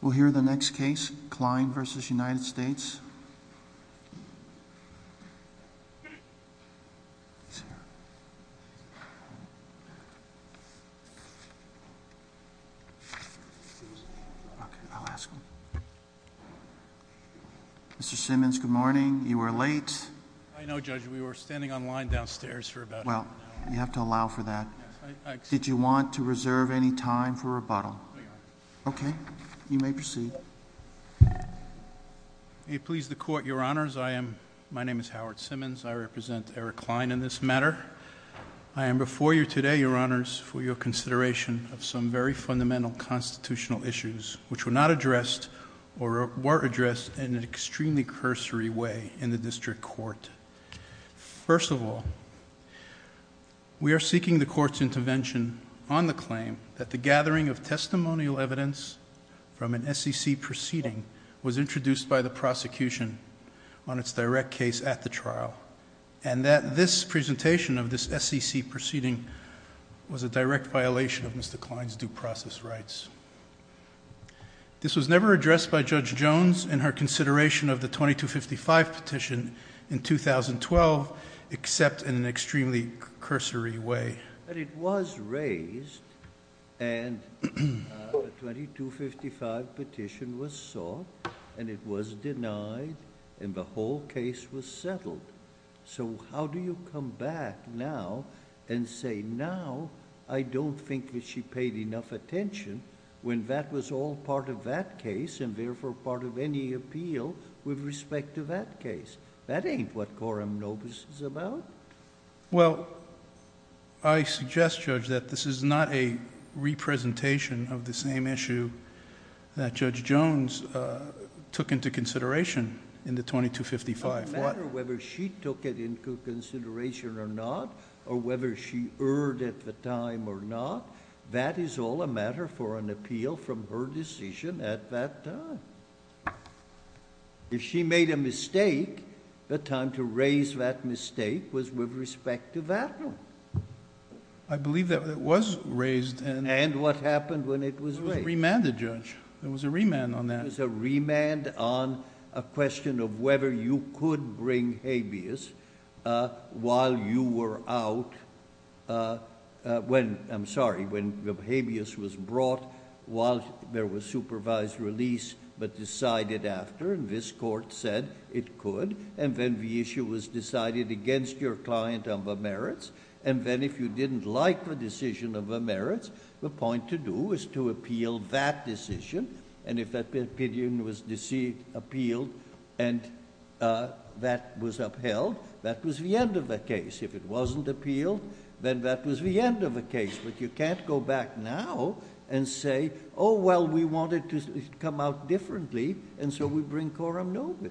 We'll hear the next case, Kline v. United States. Okay, I'll ask him. Mr. Simmons, good morning. You were late. I know, Judge. We were standing on line downstairs for about an hour. Well, you have to allow for that. Did you want to reserve any time for rebuttal? I did. Okay. You may proceed. May it please the Court, Your Honors, I am—my name is Howard Simmons. I represent Eric Kline in this matter. I am before you today, Your Honors, for your consideration of some very fundamental constitutional issues which were not addressed or were addressed in an extremely cursory way in the District Court. First of all, we are seeking the Court's intervention on the claim that the gathering of testimonial evidence from an SEC proceeding was introduced by the prosecution on its direct case at the trial and that this presentation of this SEC proceeding was a direct violation of Mr. Kline's due process rights. This was never addressed by Judge Jones in her consideration of the 2255 petition in 2012, except in an extremely cursory way. But it was raised, and the 2255 petition was sought, and it was denied, and the whole case was settled. So how do you come back now and say, now I don't think that she paid enough attention when that was all part of that case and therefore part of any appeal with respect to that case? That ain't what quorum nobis is about. Well, I suggest, Judge, that this is not a re-presentation of the same issue that Judge Jones took into consideration in the 2255. It doesn't matter whether she took it into consideration or not, or whether she erred at the time or not. That is all a matter for an appeal from her decision at that time. If she made a mistake, the time to raise that mistake was with respect to that one. I believe that it was raised. And what happened when it was raised? It was remanded, Judge. There was a remand on that. There was a remand on a question of whether you could bring habeas while you were out, when, I'm sorry, when habeas was brought while there was supervised release but decided after, and this Court said it could, and then the issue was decided against your client on the merits. And then if you didn't like the decision of the merits, the point to do is to appeal that decision. And if that opinion was appealed and that was upheld, that was the end of the case. If it wasn't appealed, then that was the end of the case. But you can't go back now and say, oh, well, we wanted it to come out differently, and so we bring quorum novis.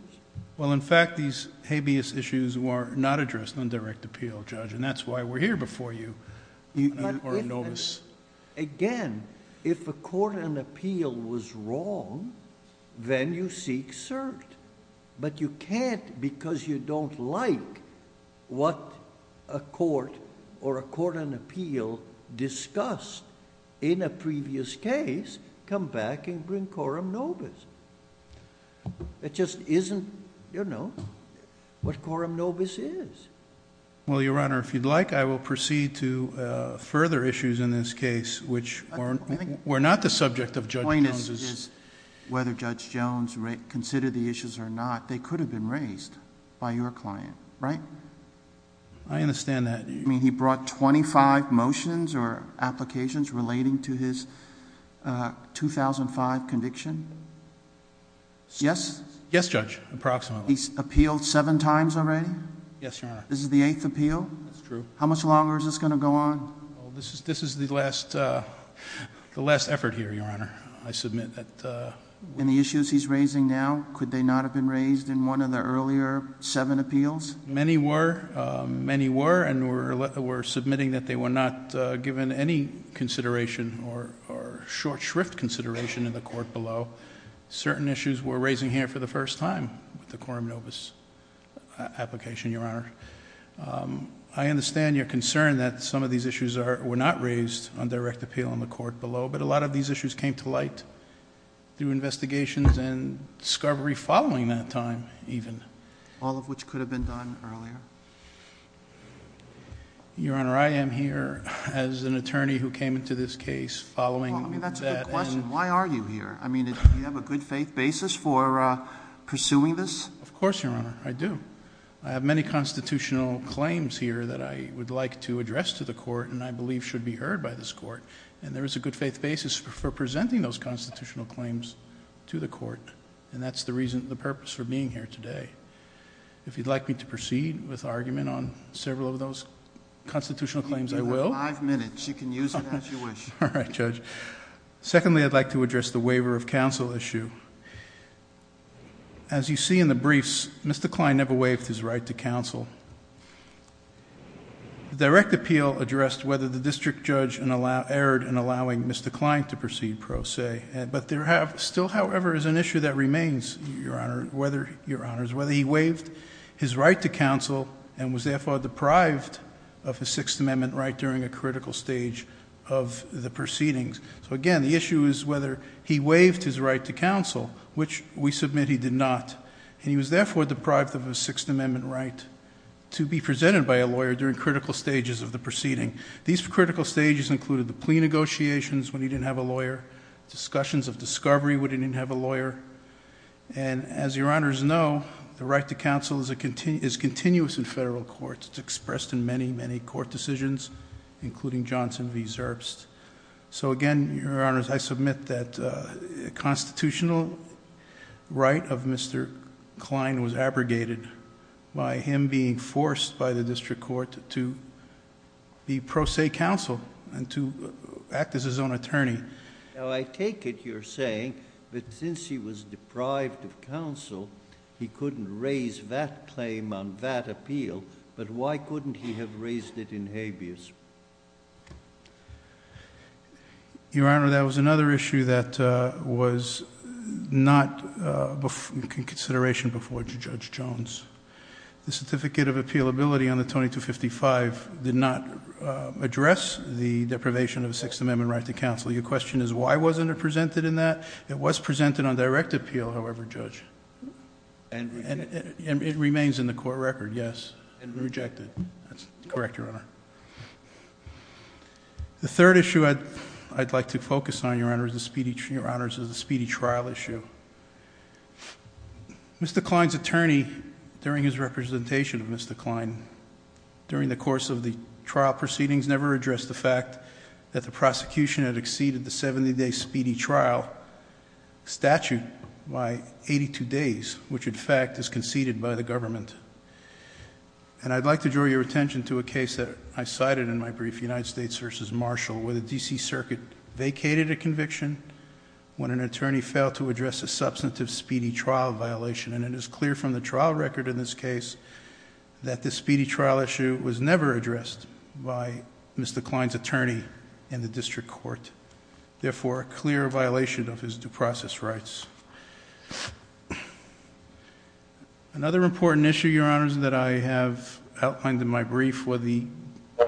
Well, in fact, these habeas issues were not addressed on direct appeal, Judge, and that's why we're here before you. Again, if a court on appeal was wrong, then you seek cert. But you can't, because you don't like what a court or a court on appeal discussed in a previous case, come back and bring quorum novis. It just isn't, you know, what quorum novis is. Well, Your Honor, if you'd like, I will proceed to further issues in this case which were not the subject of Judge Jones's... The point is whether Judge Jones considered the issues or not, they could have been raised by your client, right? I understand that. You mean he brought 25 motions or applications relating to his 2005 conviction? Yes? Yes, Judge, approximately. He's appealed seven times already? Yes, Your Honor. This is the eighth appeal? That's true. How much longer is this going to go on? Well, this is the last effort here, Your Honor. I submit that... And the issues he's raising now, could they not have been raised in one of the earlier seven appeals? Many were. Many were, and we're submitting that they were not given any consideration or short shrift consideration in the court below. Certain issues we're raising here for the first time with the quorum novis application, Your Honor. I understand your concern that some of these issues were not raised on direct appeal on the court below, but a lot of these issues came to light through investigations and discovery following that time, even. All of which could have been done earlier? Your Honor, I am here as an attorney who came into this case following... Well, I mean, that's a good question. Why are you here? I mean, do you have a good faith basis for pursuing this? Of course, Your Honor. I do. I have many constitutional claims here that I would like to address to the court and I believe should be heard by this court. And there is a good faith basis for presenting those constitutional claims to the court, and that's the reason, the purpose for being here today. If you'd like me to proceed with argument on several of those constitutional claims, I will. You have five minutes. You can use it as you wish. All right, Judge. Secondly, I'd like to address the waiver of counsel issue. As you see in the briefs, Mr. Klein never waived his right to counsel. The direct appeal addressed whether the district judge erred in allowing Mr. Klein to proceed pro se, but there still, however, is an issue that remains, Your Honor, whether he waived his right to counsel and was, therefore, deprived of his Sixth Amendment right during a critical stage of the proceedings. So, again, the issue is whether he waived his right to counsel, which we submit he did not, and he was, therefore, deprived of his Sixth Amendment right to be presented by a lawyer during critical stages of the proceeding. These critical stages included the plea negotiations when he didn't have a lawyer, discussions of discovery when he didn't have a lawyer, and as Your Honors know, the right to counsel is continuous in federal courts. It's expressed in many, many court decisions, including Johnson v. Zerbst. So, again, Your Honors, I submit that a constitutional right of Mr. Klein was abrogated by him being forced by the district court to be pro se counsel and to act as his own attorney. Now, I take it you're saying that since he was deprived of counsel, he couldn't raise that claim on that appeal, but why couldn't he have raised it in habeas? Your Honor, that was another issue that was not in consideration before Judge Jones. The certificate of appealability on the 2255 did not address the deprivation of the Sixth Amendment right to counsel. Your question is why wasn't it presented in that? It was presented on direct appeal, however, Judge. And it remains in the court record, yes. And rejected. That's correct, Your Honor. The third issue I'd like to focus on, Your Honors, is the speedy trial issue. Mr. Klein's attorney, during his representation of Mr. Klein, during the course of the trial proceedings, never addressed the fact that the prosecution had exceeded the 70-day speedy trial statute by 82 days, which, in fact, is conceded by the government. And I'd like to draw your attention to a case that I cited in my brief, United States v. Marshall, where the D.C. Circuit vacated a conviction when an attorney failed to address a substantive speedy trial violation. And it is clear from the trial record in this case that this speedy trial issue was never addressed by Mr. Klein's attorney in the district court. Therefore, a clear violation of his due process rights. Another important issue, Your Honors, that I have outlined in my brief were the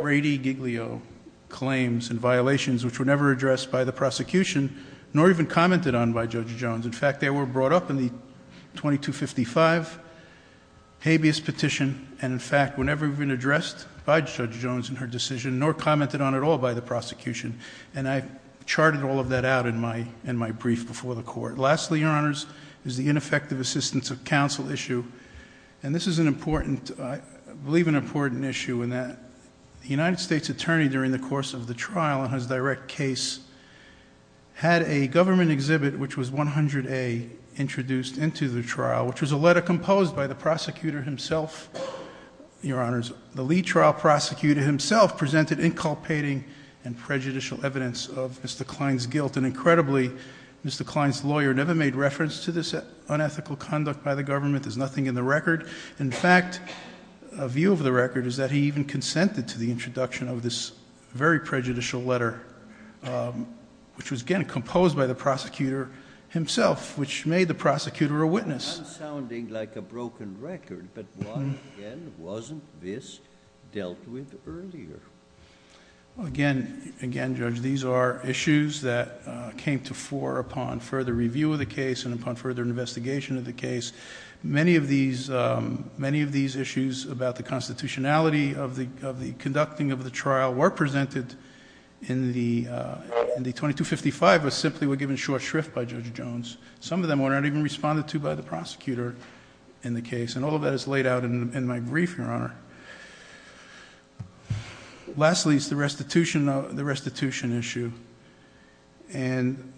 Brady-Giglio claims and violations which were never addressed by the prosecution, nor even commented on by Judge Jones. In fact, they were brought up in the 2255 habeas petition. And in fact, were never even addressed by Judge Jones in her decision, nor commented on at all by the prosecution. And I've charted all of that out in my brief before the court. Lastly, Your Honors, is the ineffective assistance of counsel issue. And this is an important, I believe an important issue in that the United States attorney, during the course of the trial and his direct case, had a government exhibit, which was 100A introduced into the trial, which was a letter composed by the prosecutor himself. Your Honors, the lead trial prosecutor himself presented inculpating and prejudicial evidence of Mr. Klein's guilt. And incredibly, Mr. Klein's lawyer never made reference to this unethical conduct by the government. There's nothing in the record. In fact, a view of the record is that he even consented to the introduction of this very prejudicial letter, which was, again, composed by the prosecutor himself, which made the prosecutor a witness. I'm sounding like a broken record, but why, again, wasn't this dealt with earlier? Again, Judge, these are issues that came to fore upon further review of the case and upon further investigation of the case. Many of these issues about the constitutionality of the conducting of the trial were presented in the 2255, but simply were given short shrift by Judge Jones. Some of them were not even responded to by the prosecutor in the case. And all of that is laid out in my brief, Your Honor. Lastly is the restitution issue. And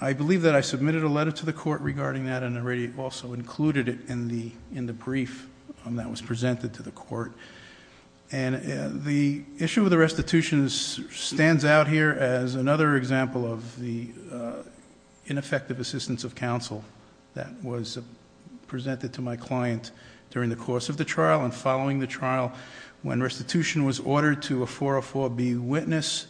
I believe that I submitted a letter to the court regarding that and already also included it in the brief that was presented to the court. And the issue of the restitution stands out here as another example of the ineffective assistance of counsel that was presented to my client during the course of the trial and following the trial. When restitution was ordered to a 404B witness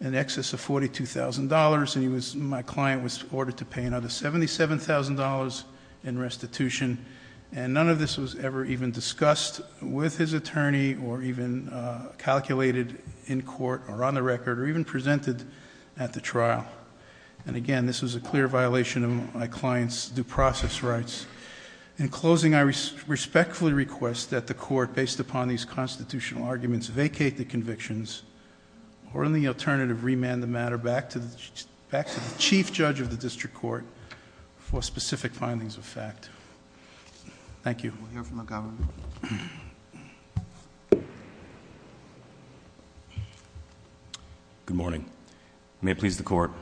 in excess of $42,000, and my client was ordered to pay another $77,000 in restitution. And none of this was ever even discussed with his attorney or even calculated in court or on the record or even presented at the trial. And again, this was a clear violation of my client's due process rights. In closing, I respectfully request that the court, based upon these constitutional arguments, vacate the convictions or in the alternative, remand the matter back to the chief judge of the district court for specific findings of fact. Thank you. We'll hear from the governor. Good morning. May it please the court.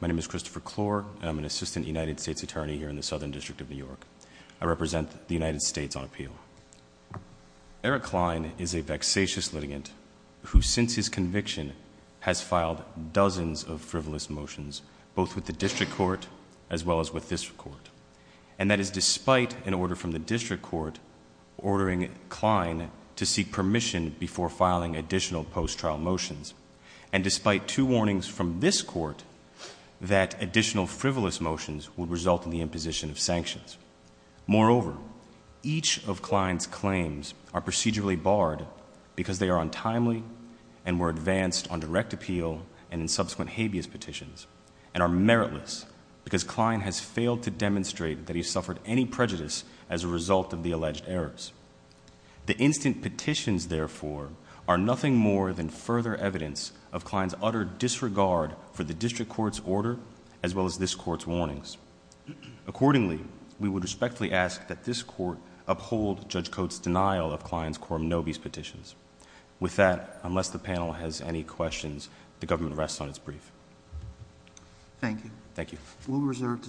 My name is Christopher Clore. I'm an assistant United States attorney here in the Southern District of New York. I represent the United States on appeal. Eric Klein is a vexatious litigant who, since his conviction, has filed dozens of frivolous motions, both with the district court as well as with this court. And that is despite an order from the district court ordering Klein to seek permission before filing additional post-trial motions. And despite two warnings from this court that additional frivolous motions would result in the imposition of sanctions. Moreover, each of Klein's claims are procedurally barred because they are untimely and were advanced on direct appeal and in subsequent habeas petitions, and are meritless because Klein has failed to demonstrate that he's suffered any prejudice as a result of the alleged errors. The instant petitions, therefore, are nothing more than further evidence of Klein's utter disregard for the district court's order, as well as this court's warnings. Accordingly, we would respectfully ask that this court uphold Judge Coates' denial of Klein's quorum nobis petitions. With that, unless the panel has any questions, the government rests on its brief. Thank you. Thank you. We'll reserve decision.